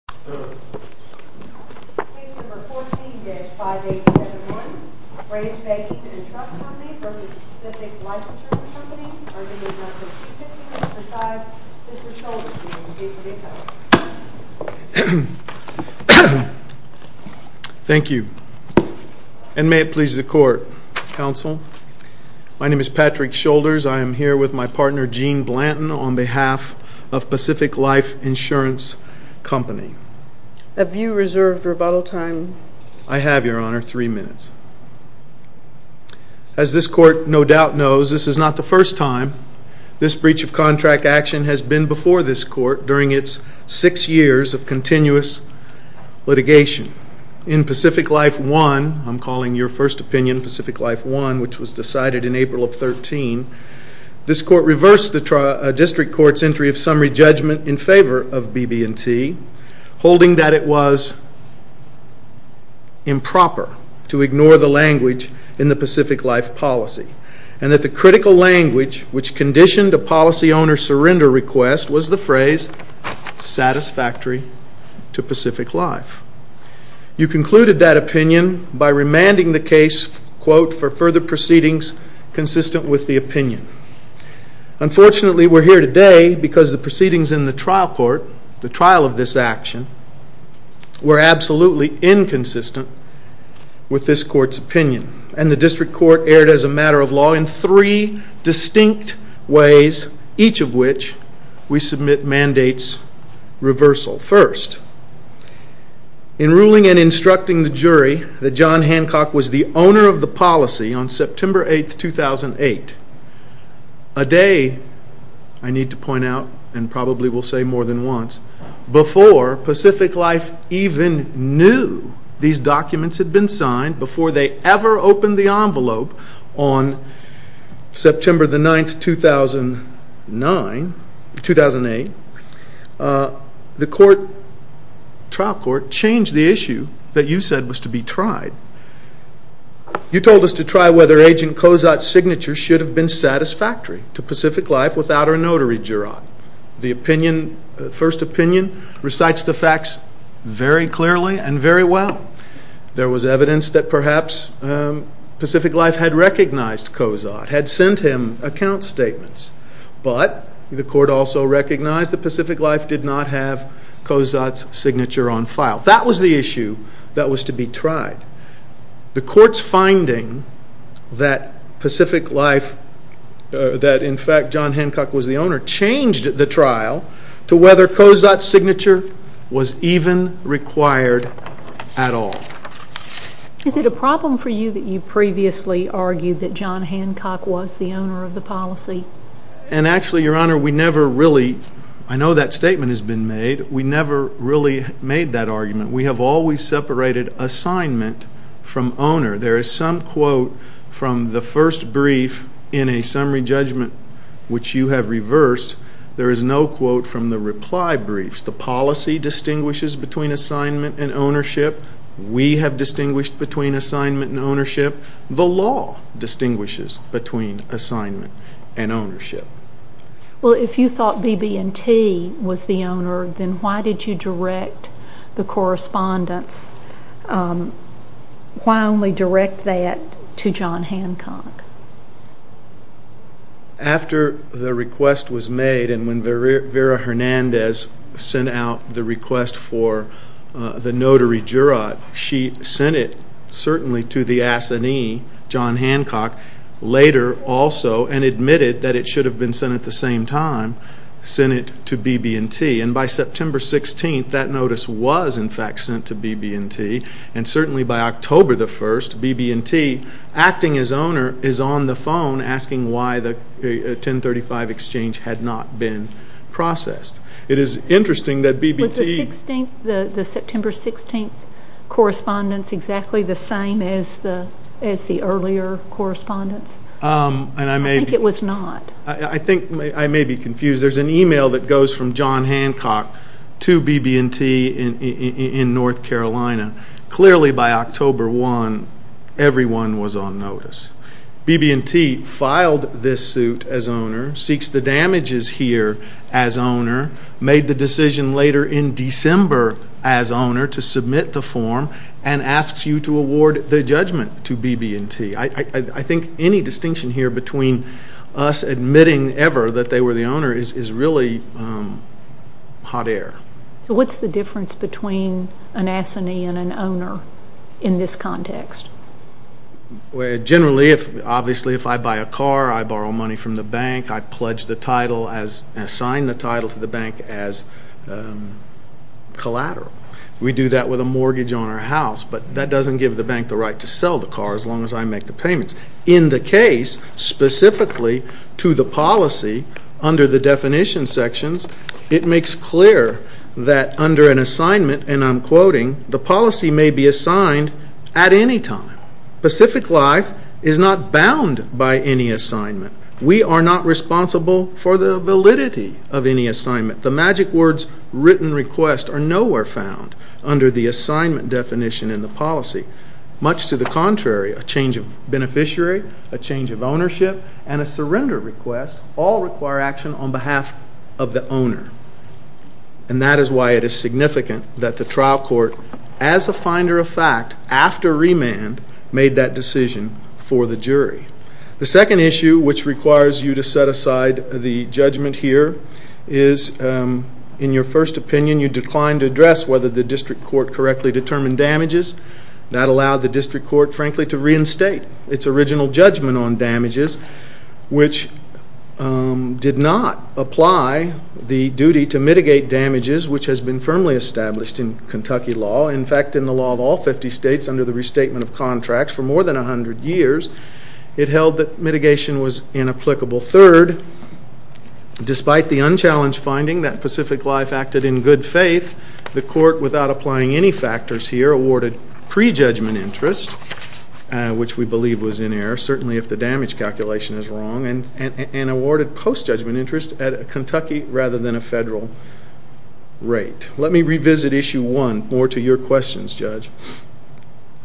or is this not specific to Mr. Scholders being the VP of Finance? Thank you. And may it please the Court, Counsel. My name is Patrick Scholders. I am here with my partner, Gene Blanton, on behalf of Pacific Life Insurance Company. Have you reserved rebuttal time? I have, Your Honor, three minutes. As this Court no doubt knows, this is not the first time this breach of contract action has been before this Court during its six years of continuous litigation. In Pacific Life 1, I'm calling your first opinion, Pacific Life 1, which was decided in April of 13, this Court reversed the District Court's entry of summary judgment in favor of BB&T, holding that it was improper to ignore the language in the Pacific Life policy and that the critical language which conditioned a policy owner's surrender request was the phrase, satisfactory to Pacific Life. You concluded that opinion by remanding the case, quote, for further proceedings consistent with the opinion. Unfortunately, we're here today because the proceedings in the trial court, the trial of this action, were absolutely inconsistent with this Court's opinion, and the District Court erred as a matter of law in three distinct ways, each of which we submit mandates reversal. First, in ruling and instructing the jury that John Hancock was the owner of the policy on September 8, 2008, a day, I need to point out and probably will say more than once, before Pacific Life even knew these documents had been signed, before they ever opened the envelope on September 9, 2008, the trial court changed the issue that you said was to be tried. You told us to try whether Agent Kozot's signature should have been satisfactory to Pacific Life without our notary juror. The first opinion recites the facts very clearly and very well. There was evidence that perhaps Pacific Life had recognized Kozot, had sent him account statements, but the court also recognized that Pacific Life did not have Kozot's signature on file. That was the issue that was to be tried. The Court's finding that Pacific Life, that in fact John Hancock was the owner, changed the trial to whether Kozot's signature was even required at all. Is it a problem for you that you previously argued that John Hancock was the owner of the policy? And actually, Your Honor, we never really, I know that statement has been made, we never really made that argument. We have always separated assignment from owner. There is some quote from the first brief in a summary judgment which you have reversed, there is no quote from the reply briefs. The policy distinguishes between assignment and ownership. We have distinguished between assignment and ownership. The law distinguishes between assignment and ownership. Well, if you thought BB&T was the owner, then why did you direct the correspondence? Why only direct that to John Hancock? After the request was made and when Vera Hernandez sent out the request for the notary jurat, she sent it certainly to the assignee, John Hancock had been sent at the same time, sent it to BB&T and by September 16th, that notice was in fact sent to BB&T and certainly by October 1st, BB&T acting as owner is on the phone asking why the 1035 exchange had not been processed. It is interesting that BB&T... Was the September 16th correspondence exactly the same as the earlier correspondence? I think it was not. I think I may be confused. There is an email that goes from John Hancock to BB&T in North Carolina. Clearly by October 1, everyone was on notice. BB&T filed this suit as owner, seeks the damages here as owner, made the decision later in December as owner to submit the form and asks you to award the judgment to BB&T. I think any distinction here between us admitting ever that they were the owner is really hot air. So what is the difference between an assignee and an owner in this context? Generally, obviously if I buy a car, I borrow money from the bank, I pledge the title, assign the title to the bank as collateral. We do that with a mortgage on our house, but that does not give the bank the right to sell the car as long as I make the payments. In the case specifically to the policy under the definition sections, it makes clear that under an assignment, and I am quoting, the policy may be assigned at any time. Pacific Life is not bound by any assignment. We are not responsible for the validity of any assignment. The magic words written request are nowhere found under the assignment definition in the contrary. A change of beneficiary, a change of ownership, and a surrender request all require action on behalf of the owner. And that is why it is significant that the trial court as a finder of fact after remand made that decision for the jury. The second issue which requires you to set aside the judgment here is in your first opinion, you declined to address whether the district court correctly determined damages. That allowed the district court frankly to reinstate its original judgment on damages, which did not apply the duty to mitigate damages, which has been firmly established in Kentucky law, in fact in the law of all 50 states under the restatement of contracts for more than 100 years. It held that mitigation was inapplicable. Third, despite the unchallenged finding that applying any factors here awarded pre-judgment interest, which we believe was in error, certainly if the damage calculation is wrong, and awarded post-judgment interest at a Kentucky rather than a federal rate. Let me revisit issue one more to your questions, Judge.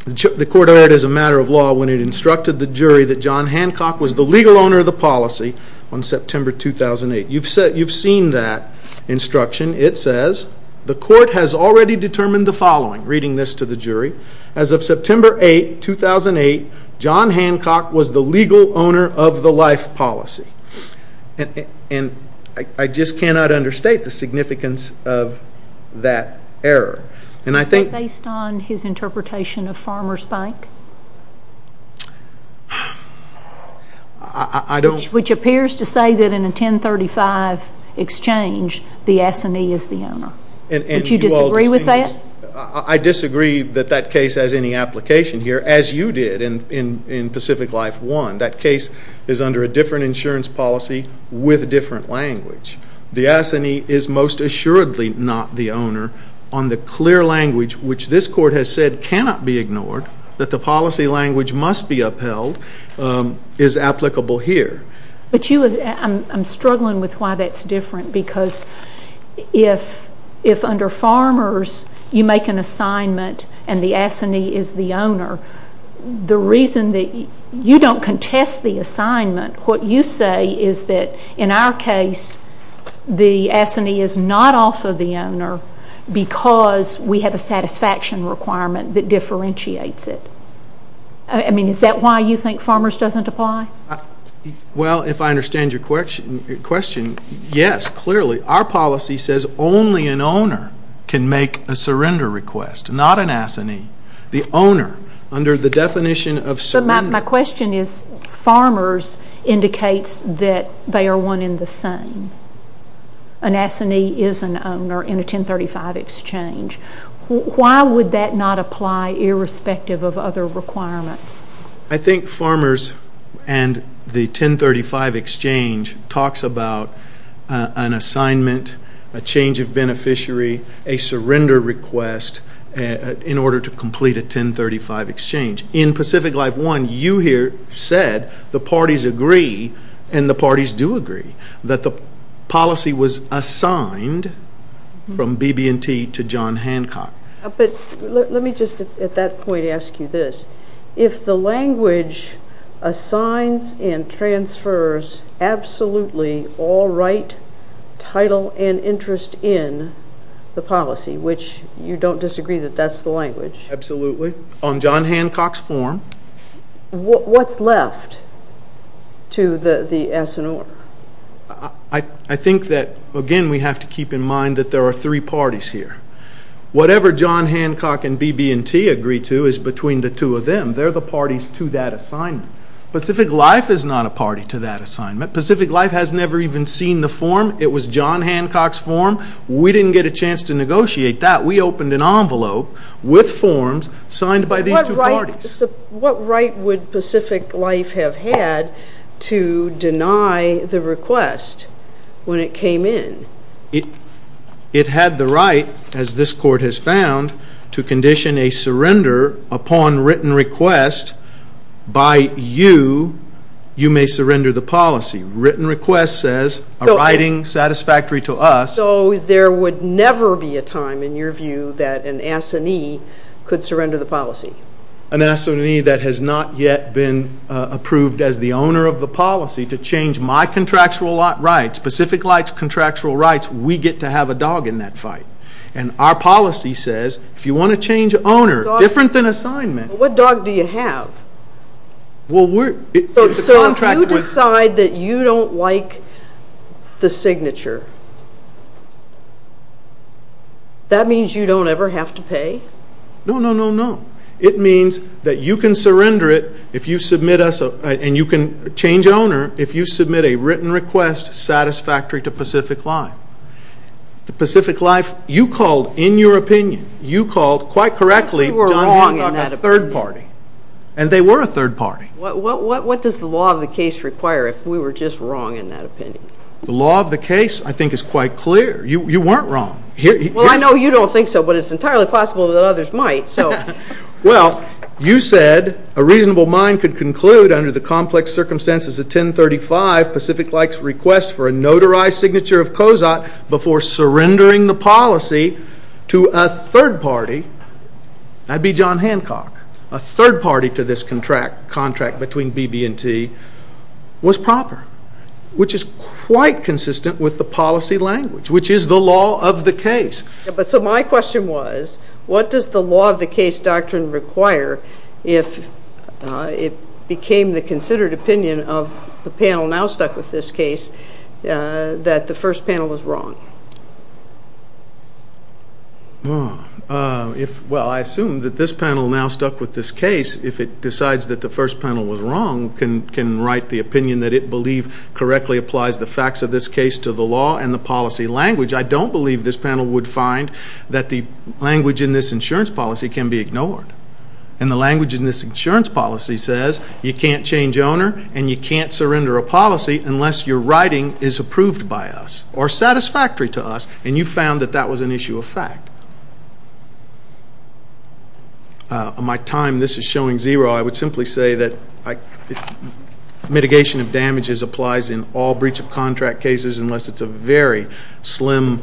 The court heard as a matter of law when it instructed the jury that John Hancock was the legal owner of the policy on September 2008. You have seen that instruction. It says, the court has already determined the following, reading this to the jury, as of September 8, 2008, John Hancock was the legal owner of the life policy. And I just cannot understate the significance of that error. And I think... Is that based on his interpretation of Farmers Bank? I don't... Which appears to say that in a 1035 exchange, the S&E is the owner. And you all... Don't you disagree with that? I disagree that that case has any application here, as you did in Pacific Life 1. That case is under a different insurance policy with a different language. The S&E is most assuredly not the owner on the clear language, which this court has said cannot be ignored, that the policy language must be upheld, is applicable here. But you... I'm struggling with why that's different, because if under Farmers, you make an assignment and the S&E is the owner, the reason that... You don't contest the assignment. What you say is that in our case, the S&E is not also the owner because we have a satisfaction requirement that differentiates it. I mean, is that why you think Farmers doesn't apply? Well, if I understand your question, yes, clearly. Our policy says only an owner can make a surrender request, not an S&E. The owner, under the definition of surrender... But my question is, Farmers indicates that they are one in the same. An S&E is an owner in a 1035 exchange. Why would that not apply irrespective of other requirements? I think Farmers and the 1035 exchange talks about an assignment, a change of beneficiary, a surrender request in order to complete a 1035 exchange. In Pacific Life 1, you here said the parties agree and the parties do agree that the policy was assigned from BB&T to John Hancock. But let me just, at that point, ask you this. If the language assigns and transfers absolutely all right, title, and interest in the policy, which you don't disagree that that's the language? Absolutely. On John Hancock's form. What's left to the S&R? I think that, again, we have to keep in mind that there are three parties here. Whatever John Hancock and BB&T agree to is between the two of them. They're the parties to that assignment. Pacific Life is not a party to that assignment. Pacific Life has never even seen the form. It was John Hancock's form. We didn't get a chance to negotiate that. We opened an envelope with forms signed by these two parties. What right would Pacific Life have had to deny the request when it came in? It had the right, as this court has found, to condition a surrender upon written request by you, you may surrender the policy. Written request says a writing satisfactory to us. So there would never be a time, in your view, that an S&E could surrender the policy? An S&E that has not yet been approved as the owner of the policy to change my contractual rights, Pacific Life's contractual rights, we get to have a dog in that fight. Our policy says, if you want to change owner, different than assignment. What dog do you have? So if you decide that you don't like the signature, that means you don't ever have to pay? No, no, no, no. It means that you can surrender it, and you can change owner, if you submit a written request satisfactory to Pacific Life. To Pacific Life, you called, in your opinion, you called, quite correctly, John Hancock a third party. And they were a third party. What does the law of the case require if we were just wrong in that opinion? The law of the case, I think, is quite clear. You weren't wrong. Well, I know you don't think so, but it's entirely possible that others might. Well, you said, a reasonable mind could conclude, under the complex circumstances of 1035, Pacific Life's request for a notarized signature of COSAT before surrendering the policy to a third party. That'd be John Hancock. A third party to this contract between BB&T was proper, which is quite consistent with the policy language, which is the law of the case. So my question was, what does the law of the case doctrine require if it became the considered opinion of the panel now stuck with this case that the first panel was wrong? Well, I assume that this panel now stuck with this case, if it decides that the first panel was wrong, can write the opinion that it believe correctly applies the facts of this case to the law and the policy language. I don't believe this panel would find that the language in this insurance policy can be ignored. And the language in this insurance policy says you can't change owner and you can't surrender a policy unless your writing is approved by us or satisfactory to us. And you found that that was an issue of fact. My time, this is showing zero. I would simply say that mitigation of damages applies in all breach of contract cases unless it's a very slim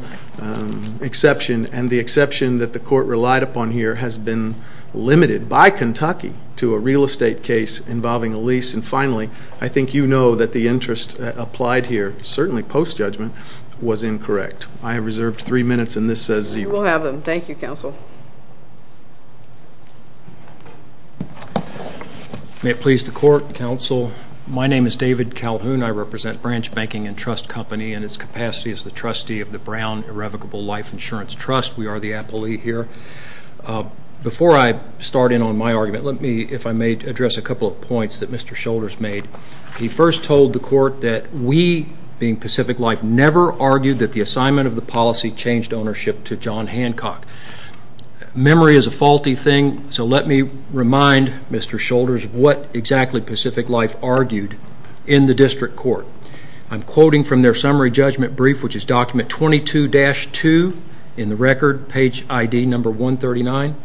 exception. And the exception that the court relied upon here has been limited by Kentucky to a real estate case involving a lease. And finally, I think you know that the interest applied here, certainly post-judgment, was incorrect. I have reserved three minutes and this says zero. We'll have them. Thank you, counsel. May it please the court, counsel. My name is David Calhoun. I represent Branch Banking and Trust Company in its capacity as the trustee of the Brown Irrevocable Life Insurance Trust. We are the appellee here. Before I start in on my argument, let me, if I may, address a couple of points that Mr. Shoulders made. He first told the court that we, being Pacific Life, never argued that the assignment of the policy changed ownership to John Hancock. Memory is a faulty thing. So let me remind Mr. Shoulders what exactly Pacific Life argued in the district court. I'm quoting from their summary judgment brief, which is document 22-2 in the record, page ID number 139.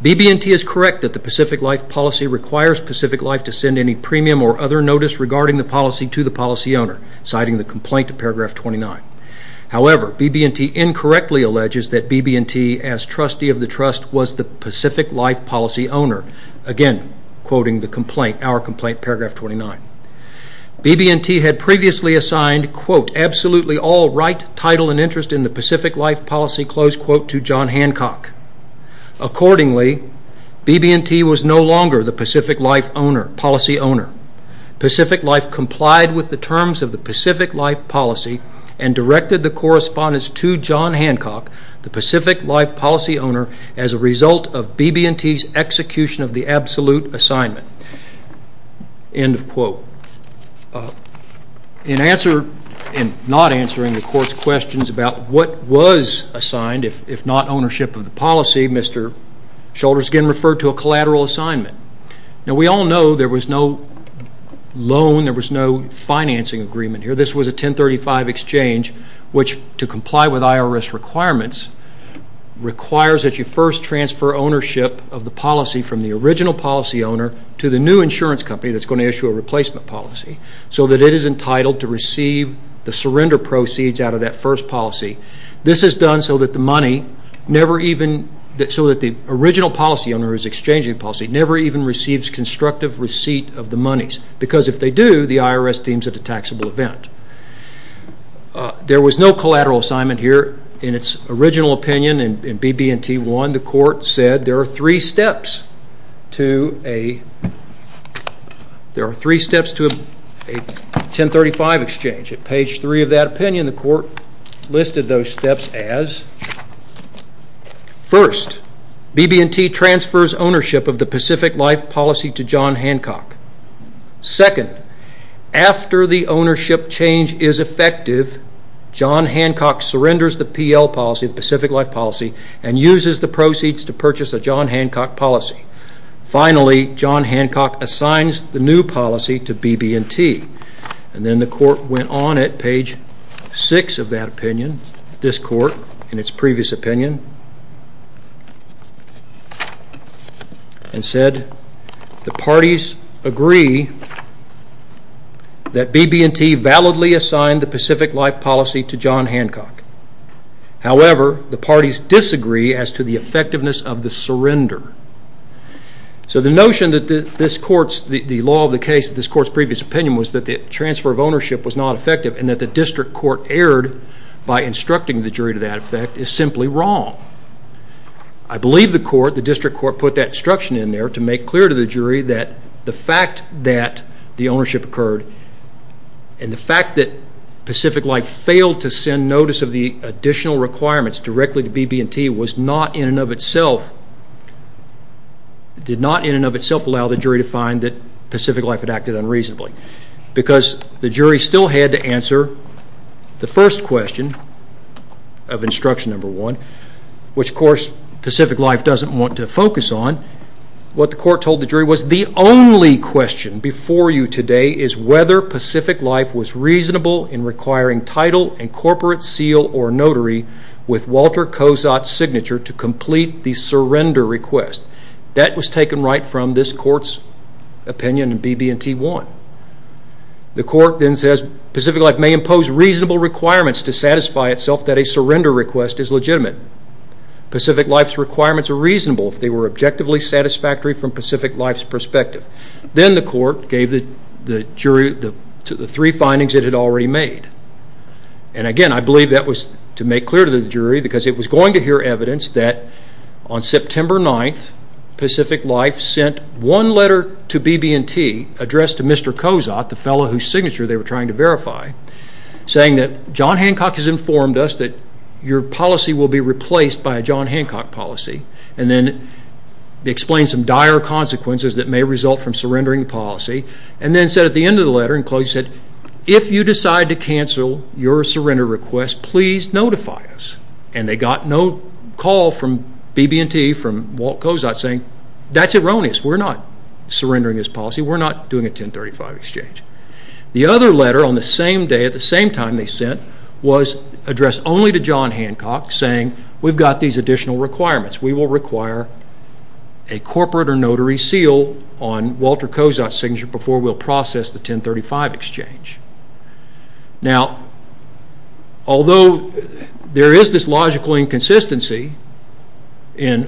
BB&T is correct that the Pacific Life policy requires Pacific Life to send any premium or other notice regarding the policy to the policy owner, citing the complaint in paragraph 29. However, BB&T incorrectly alleges that BB&T, as trustee of the trust, was the Pacific Life policy owner. Again, quoting the complaint, our complaint, paragraph 29. BB&T had previously assigned, quote, absolutely all right, title, and interest in the Pacific Life policy, close quote, to John Hancock. Accordingly, BB&T was no longer the Pacific Life policy owner. Pacific Life complied with the terms of the Pacific Life policy and directed the correspondence to John Hancock, the Pacific Life policy owner, as a result of BB&T's execution of the absolute assignment, end of quote. In not answering the court's questions about what was assigned, if not ownership of the policy, Mr. Shoulders again referred to a collateral assignment. Now, we all know there was no loan, there was no financing agreement here. This was a 1035 exchange, which, to comply with IRS requirements, requires that you first transfer ownership of the policy from the original policy owner to the new insurance company that's going to issue a replacement policy, so that it is entitled to receive the surrender proceeds out of that first policy. This is done so that the money never even, so that the original policy owner is exchanging policy, never even receives constructive receipt of the monies, because if they do, the IRS deems it a taxable event. There was no collateral assignment here. In its original opinion, in BB&T 1, the court said there are three steps to a 1035 exchange. At page 3 of that opinion, the court listed those steps as, first, BB&T transfers ownership of the Pacific Life policy to John Hancock. Second, after the ownership change is effective, John Hancock surrenders the PL policy, the Pacific Life policy, and uses the proceeds to purchase a John Hancock policy. Finally, John Hancock assigns the new policy to BB&T, and then the court went on at page 6 of that opinion, this court, in its previous opinion, and said the parties agree that BB&T validly assigned the Pacific Life policy to John Hancock. However, the parties disagree as to the effectiveness of the surrender. So the notion that this court's, the law of the case of this court's previous opinion was that the transfer of ownership was not effective and that the district court erred by instructing the jury to that effect is simply wrong. I believe the court, the district court, put that instruction in there to make clear to the jury that the fact that the ownership occurred and the fact that Pacific Life failed to send notice of the additional requirements directly to BB&T was not in and of itself, did not in and of itself allow the jury to find that Pacific Life had acted unreasonably. Because the jury still had to answer the first question of instruction number one, which of course Pacific Life doesn't want to focus on, what the court told the jury was the only question before you today is whether Pacific Life was reasonable in requiring title and corporate seal or notary with Walter Kozot's signature to complete the surrender request. That was taken right from this court's opinion in BB&T 1. The court then says Pacific Life may impose reasonable requirements to satisfy itself that a surrender request is legitimate. Pacific Life's requirements are reasonable if they were objectively satisfactory from Pacific Life's perspective. Then the court gave the jury the three findings it had already made. And again I believe that was to make clear to the jury because it was going to hear evidence that on September 9th Pacific Life sent one letter to BB&T addressed to Mr. Kozot, the fellow whose signature they were trying to verify, saying that John Hancock has informed us that your policy will be replaced by a John Hancock policy and then explained some dire consequences that may result from surrendering the policy and then said at the end of the letter if you decide to cancel your surrender request please notify us. And they got no call from BB&T from Walt Kozot saying that's erroneous. We're not surrendering this policy. We're not doing a 1035 exchange. The other letter on the same day at the same time they sent was addressed only to John Hancock saying we've got these additional requirements. We will require a corporate or notary seal on Walter Kozot's signature before we'll process the 1035 exchange. Now although there is this logical inconsistency in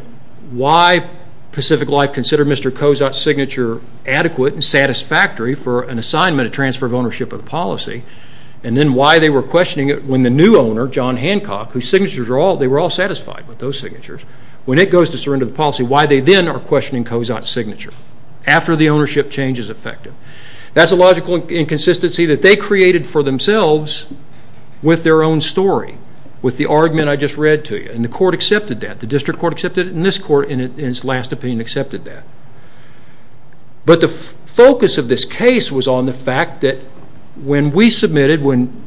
why Pacific Life considered Mr. Kozot's signature adequate and satisfactory for an assignment of transfer of ownership of the policy and then why they were questioning it when the new owner John Hancock whose signatures are all they were all satisfied with those signatures when it goes to surrender the policy why they then are questioning Kozot's signature after the ownership change is effective. That's a logical inconsistency that they created for themselves with their own story with the argument I just read to you and the court accepted that. The district court accepted it and this court in its last opinion accepted that. But the focus of this case was on the fact that when we submitted when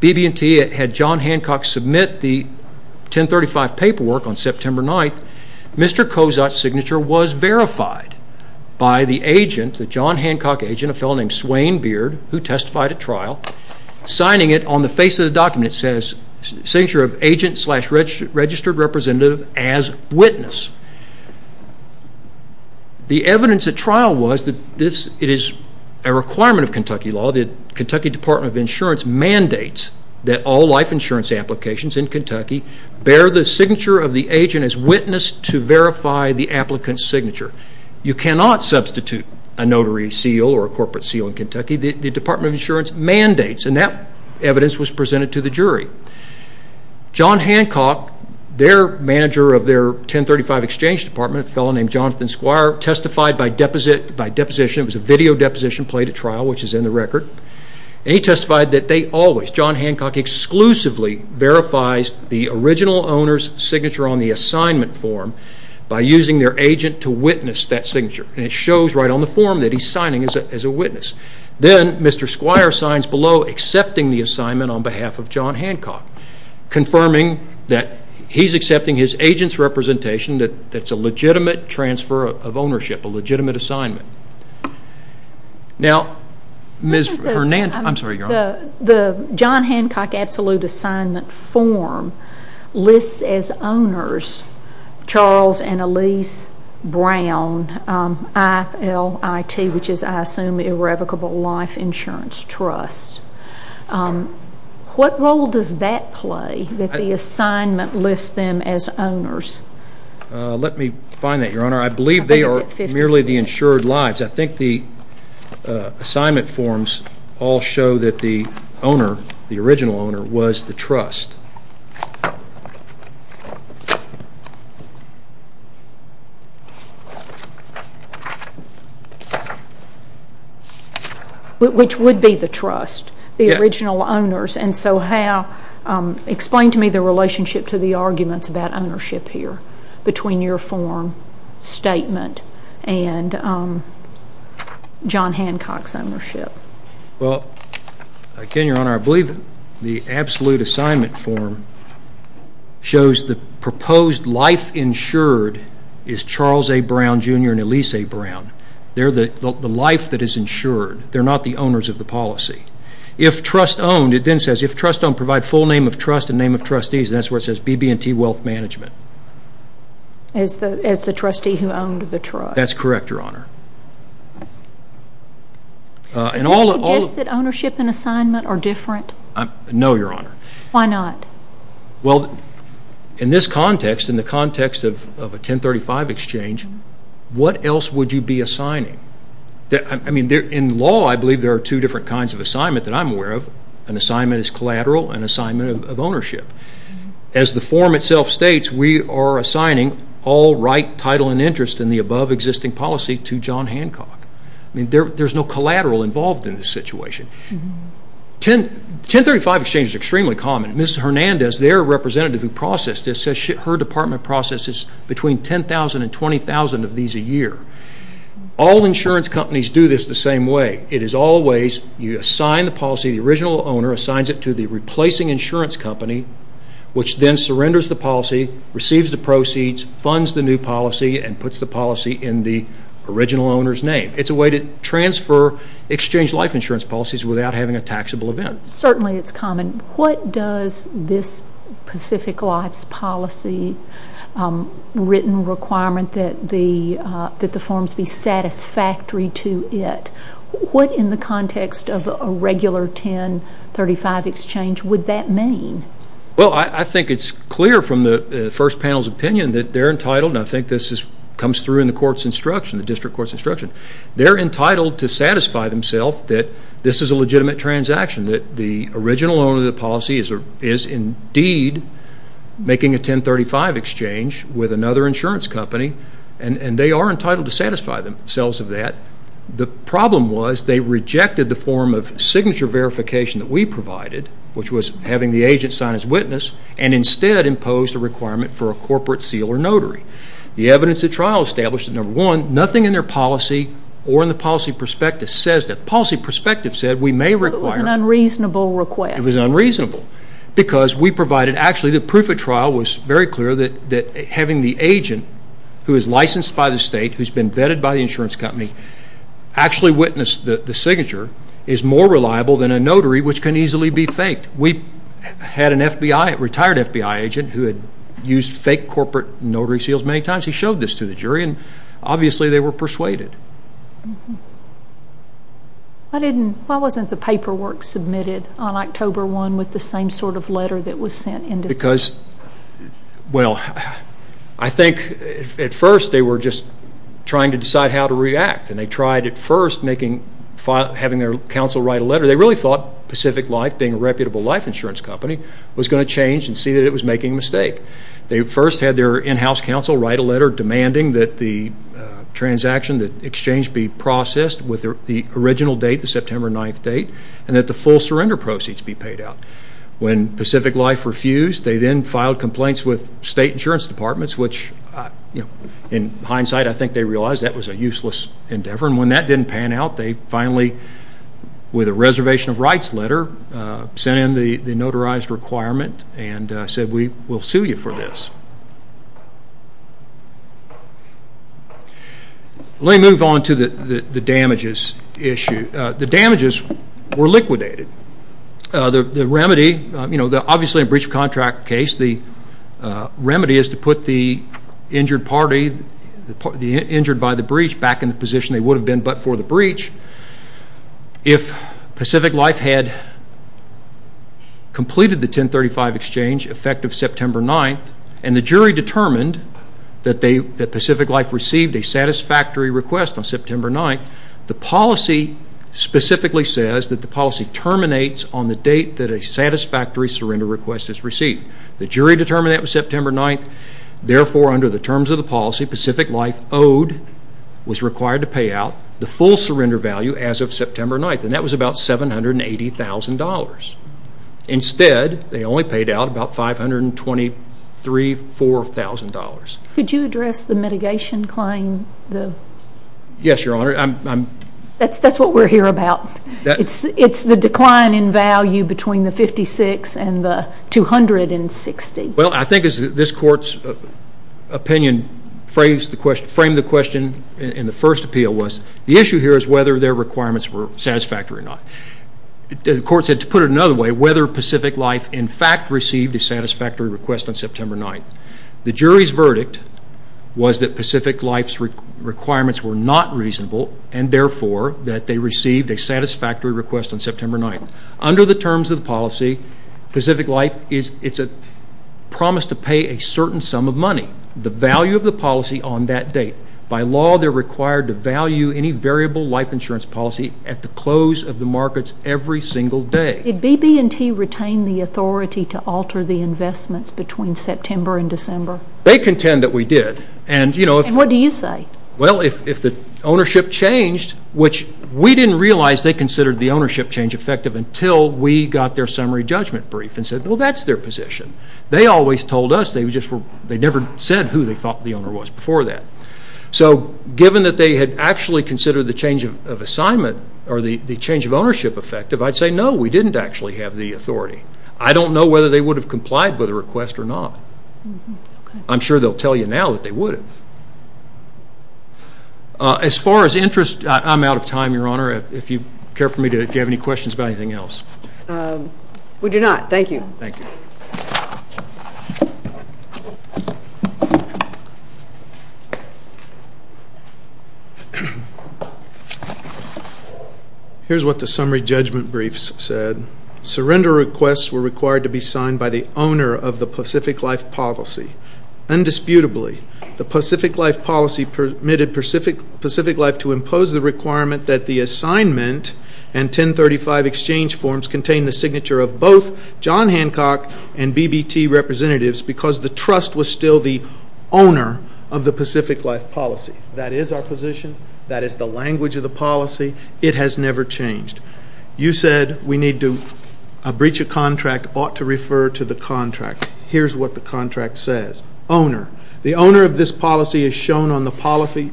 BB&T had John Hancock submit the 1035 paperwork on September 9th a fellow named Swain Beard who testified at trial signing it on the face of the document it says signature of agent slash registered representative as witness. The evidence at trial was that this it is a requirement of Kentucky law that Kentucky Department of Insurance mandates that all life insurance applications in Kentucky bear the signature of the agent as witness to verify the applicant's signature. You cannot substitute a notary seal or corporate seal in Kentucky. The Department of Insurance mandates and that evidence was presented to the jury. John Hancock their manager of their 1035 exchange department a fellow named Jonathan Squire testified by deposition it was a video deposition played at trial which is in the record and he testified that they always John Hancock exclusively verifies the original owner's signature on the assignment form by using their agent to that signature and it shows right on the form that he is signing as a witness. Then Mr. Squire signs below accepting the assignment on behalf of John Hancock confirming that he is accepting his agent's representation that is a legitimate transfer of ownership a legitimate assignment. Now Ms. Hernandez. The John Hancock absolute assignment form lists as owners Charles and I-L-I-T which is I assume irrevocable life insurance trust. What role does that play that the assignment lists them as owners? Let me find that your honor. I believe they are merely the insured lives. I think the assignment forms all show that the owner the original owner was the trust. Which would be the trust the original owners and so how explain to me the relationship to the arguments about ownership here between your form statement and John Hancock's ownership. Well again your honor I believe the absolute assignment form shows the proposed life insured is Charles A. Brown Jr. and Elise A. Brown. They are the life that is insured. They are not the owners of the policy. If trust owned it then says if trust owned provide full name of trust and name of trustees and that is where it says BB&T Wealth Management. As the trustee who owned the trust? That's correct your honor. Does this suggest that ownership and assignment are different? No your honor. Why not? Well in this context in the context of a 1035 exchange what else would you be assigning? I mean in law I believe there are two different kinds of assignment that I'm aware of. An assignment is collateral and assignment of ownership. As the form itself states we are assigning all right title and interest in the above existing policy to John Hancock. I mean there's no collateral involved in this situation. 1035 exchange is extremely common. Ms. Hernandez their representative who processed this says her department processes between 10,000 and 20,000 of these a year. All insurance companies do this the same way. It is always you assign the policy the original owner assigns it to the replacing insurance company which then surrenders the policy, receives the proceeds, funds the new policy and puts the policy in the original owner's name. It's a way to transfer exchange life insurance policies without having a taxable event. Certainly it's common. What does this Pacific Life's policy written requirement that the satisfactory to it? What in the context of a regular 1035 exchange would that mean? Well I think it's clear from the first panel's opinion that they're entitled and I think this comes through in the court's instruction the district court's instruction. They're entitled to satisfy themselves that this is a legitimate transaction that the original owner of the policy is indeed making a 1035 exchange with another insurance company and they are entitled to satisfy themselves of that. The problem was they rejected the form of signature verification that we provided which was having the agent sign as witness and instead imposed a requirement for a corporate seal or notary. The evidence at trial established number one nothing in their policy or in the policy perspective says that policy perspective said we may require. It was an unreasonable request. It was unreasonable because we provided actually the proof of trial was very clear that having the agent who is licensed by the state who's been vetted by the insurance company actually witnessed the signature is more reliable than a notary which can easily be faked. We had a retired FBI agent who had used fake corporate notary seals many times. He showed this to the jury and obviously they were persuaded. Why wasn't the paperwork submitted on October 1 with the same sort of letter that was sent because well I think at first they were just trying to decide how to react and they tried at first making having their counsel write a letter. They really thought Pacific Life being a reputable life insurance company was going to change and see that it was making a mistake. They first had their in-house counsel write a letter demanding that the transaction that exchange be processed with the original date the September 9th date and that the full surrender proceeds be paid out. When Pacific Life refused they then filed complaints with state insurance departments which you know in hindsight I think they realized that was a useless endeavor and when that didn't pan out they finally with a reservation of rights letter sent in the notarized requirement and said we will sue you for this. Let me move on to the damages issue. The damages were liquidated. The remedy you know the obviously a breach of contract case the remedy is to put the injured party the injured by the breach back in the position they would have been but for the breach. If Pacific Life had completed the 1035 exchange effective September 9th and the jury determined that Pacific Life received a satisfactory request on September 9th the policy specifically says that the policy terminates on the date that a satisfactory surrender request is received. The jury determined that was September 9th therefore under the terms of the policy Pacific Life owed was required to pay out the full surrender value as of September 9th and that was about $780,000. Instead they only paid out about $523,000. Could you address the mitigation claim? Yes your honor. That's what we're here about. It's the decline in value between the $56,000 and the $260,000. Well I think as this court's opinion framed the question in the first appeal was the issue here whether their requirements were satisfactory or not. The court said to put it another way whether Pacific Life in fact received a satisfactory request on September 9th. The jury's verdict was that Pacific Life's requirements were not reasonable and therefore that they received a satisfactory request on September 9th. Under the terms of the policy Pacific Life is it's a promise to pay a certain sum of money. The value of the policy on that date by law they're required to value any variable life insurance policy at the close of the markets every single day. Did BB&T retain the authority to alter the investments between September and December? They contend that we did. And what do you say? Well if the ownership changed which we didn't realize they considered the ownership change effective until we got their summary judgment brief and said well that's their position. They always told us they never said who they thought the owner was before that. So given that they had actually considered the change of assignment or the change of ownership effective I'd say no we didn't actually have the authority. I don't know whether they would have complied with a request or not. I'm sure they'll tell you now that they would have. As far as interest I'm out of time your honor if you care for me to if you Here's what the summary judgment briefs said. Surrender requests were required to be signed by the owner of the Pacific Life policy. Undisputably the Pacific Life policy permitted Pacific Life to impose the requirement that the assignment and 1035 exchange forms contain the signature of John Hancock and BB&T representatives because the trust was still the owner of the Pacific Life policy. That is our position. That is the language of the policy. It has never changed. You said we need to breach a contract ought to refer to the contract. Here's what the contract says. Owner. The owner of this policy is shown on the policy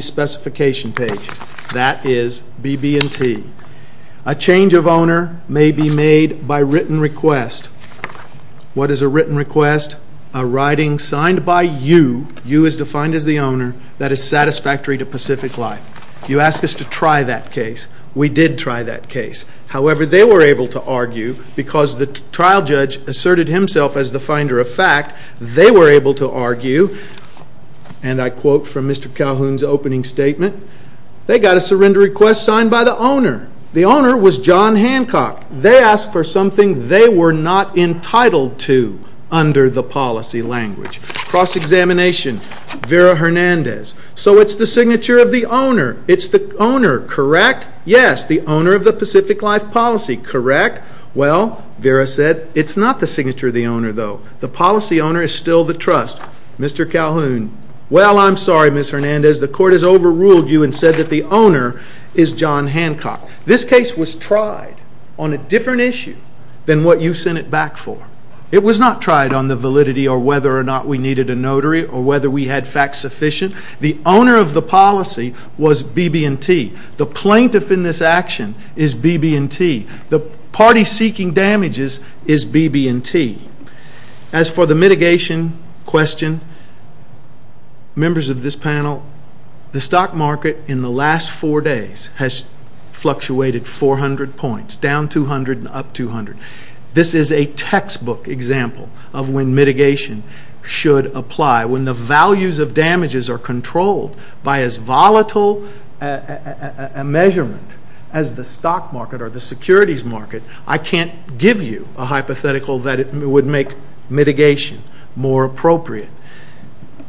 specification page. That is BB&T. A change of written request. What is a written request? A writing signed by you. You is defined as the owner. That is satisfactory to Pacific Life. You ask us to try that case. We did try that case. However they were able to argue because the trial judge asserted himself as the finder of fact. They were able to argue and I quote from Mr. Calhoun's opening statement. They got a surrender request signed by the owner. The owner was John Hancock. They asked for something they were not entitled to under the policy language. Cross-examination. Vera Hernandez. So it's the signature of the owner. It's the owner. Correct? Yes. The owner of the Pacific Life policy. Correct? Well Vera said it's not the signature of the owner though. The policy owner is still the trust. Mr. Calhoun. Well I'm sorry Ms. Hernandez. The court has overruled you and said that the owner is John Hancock. This case was tried on a different issue than what you sent it back for. It was not tried on the validity or whether or not we needed a notary or whether we had facts sufficient. The owner of the policy was BB&T. The plaintiff in this action is BB&T. The party seeking damages is BB&T. As for the mitigation question, members of this panel, the stock market in the last four days has fluctuated 400 points. Down 200 and up 200. This is a textbook example of when mitigation should apply. When the values of damages are controlled by as volatile a measurement as the market or the securities market, I can't give you a hypothetical that it would make mitigation more appropriate.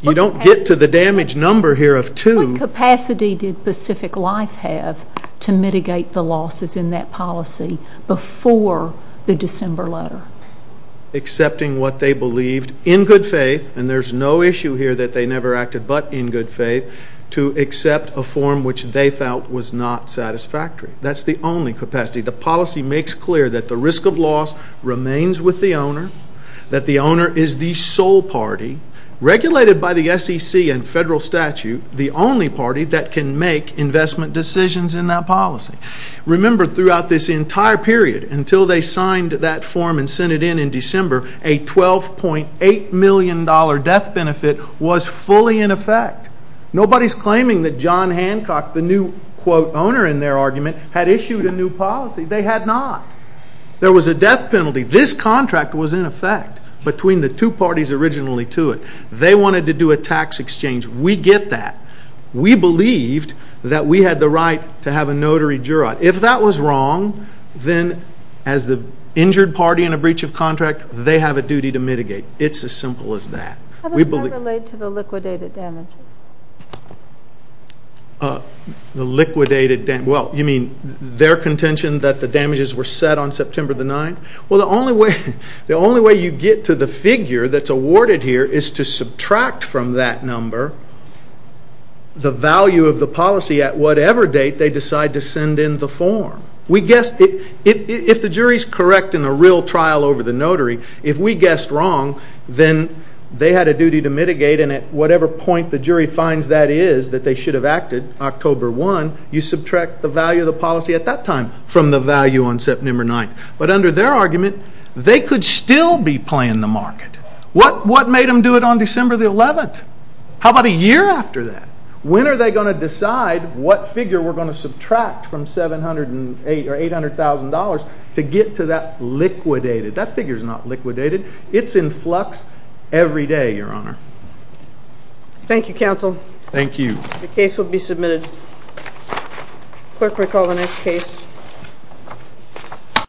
You don't get to the damage number here of two. What capacity did Pacific Life have to mitigate the losses in that policy before the December letter? Accepting what they believed in good faith and there's no issue here that they never acted but in good faith to accept a form which they felt was not satisfactory. That's the only capacity. The policy makes clear that the risk of loss remains with the owner, that the owner is the sole party regulated by the SEC and federal statute, the only party that can make investment decisions in that policy. Remember throughout this entire period until they signed that form and benefit was fully in effect. Nobody's claiming that John Hancock, the new quote owner in their argument, had issued a new policy. They had not. There was a death penalty. This contract was in effect between the two parties originally to it. They wanted to do a tax exchange. We get that. We believed that we had the right to have a notary juror. If that was wrong, then as the related to the liquidated damages? The liquidated damage, well you mean their contention that the damages were set on September the 9th? Well the only way you get to the figure that's awarded here is to subtract from that number the value of the policy at whatever date they decide to send in the form. If the jury's correct in a real trial over the notary, if we guessed wrong, then they had a duty to mitigate and at whatever point the jury finds that is, that they should have acted October 1, you subtract the value of the policy at that time from the value on September 9th. But under their argument, they could still be playing the market. What made them do it on December the 11th? How about a year after that? When are they going to decide what figure we're going to subtract from $708,000 or $800,000 to get to that liquidated? That figure's not every day, Your Honor. Thank you, counsel. Thank you. The case will be submitted. Clerk will call the next case.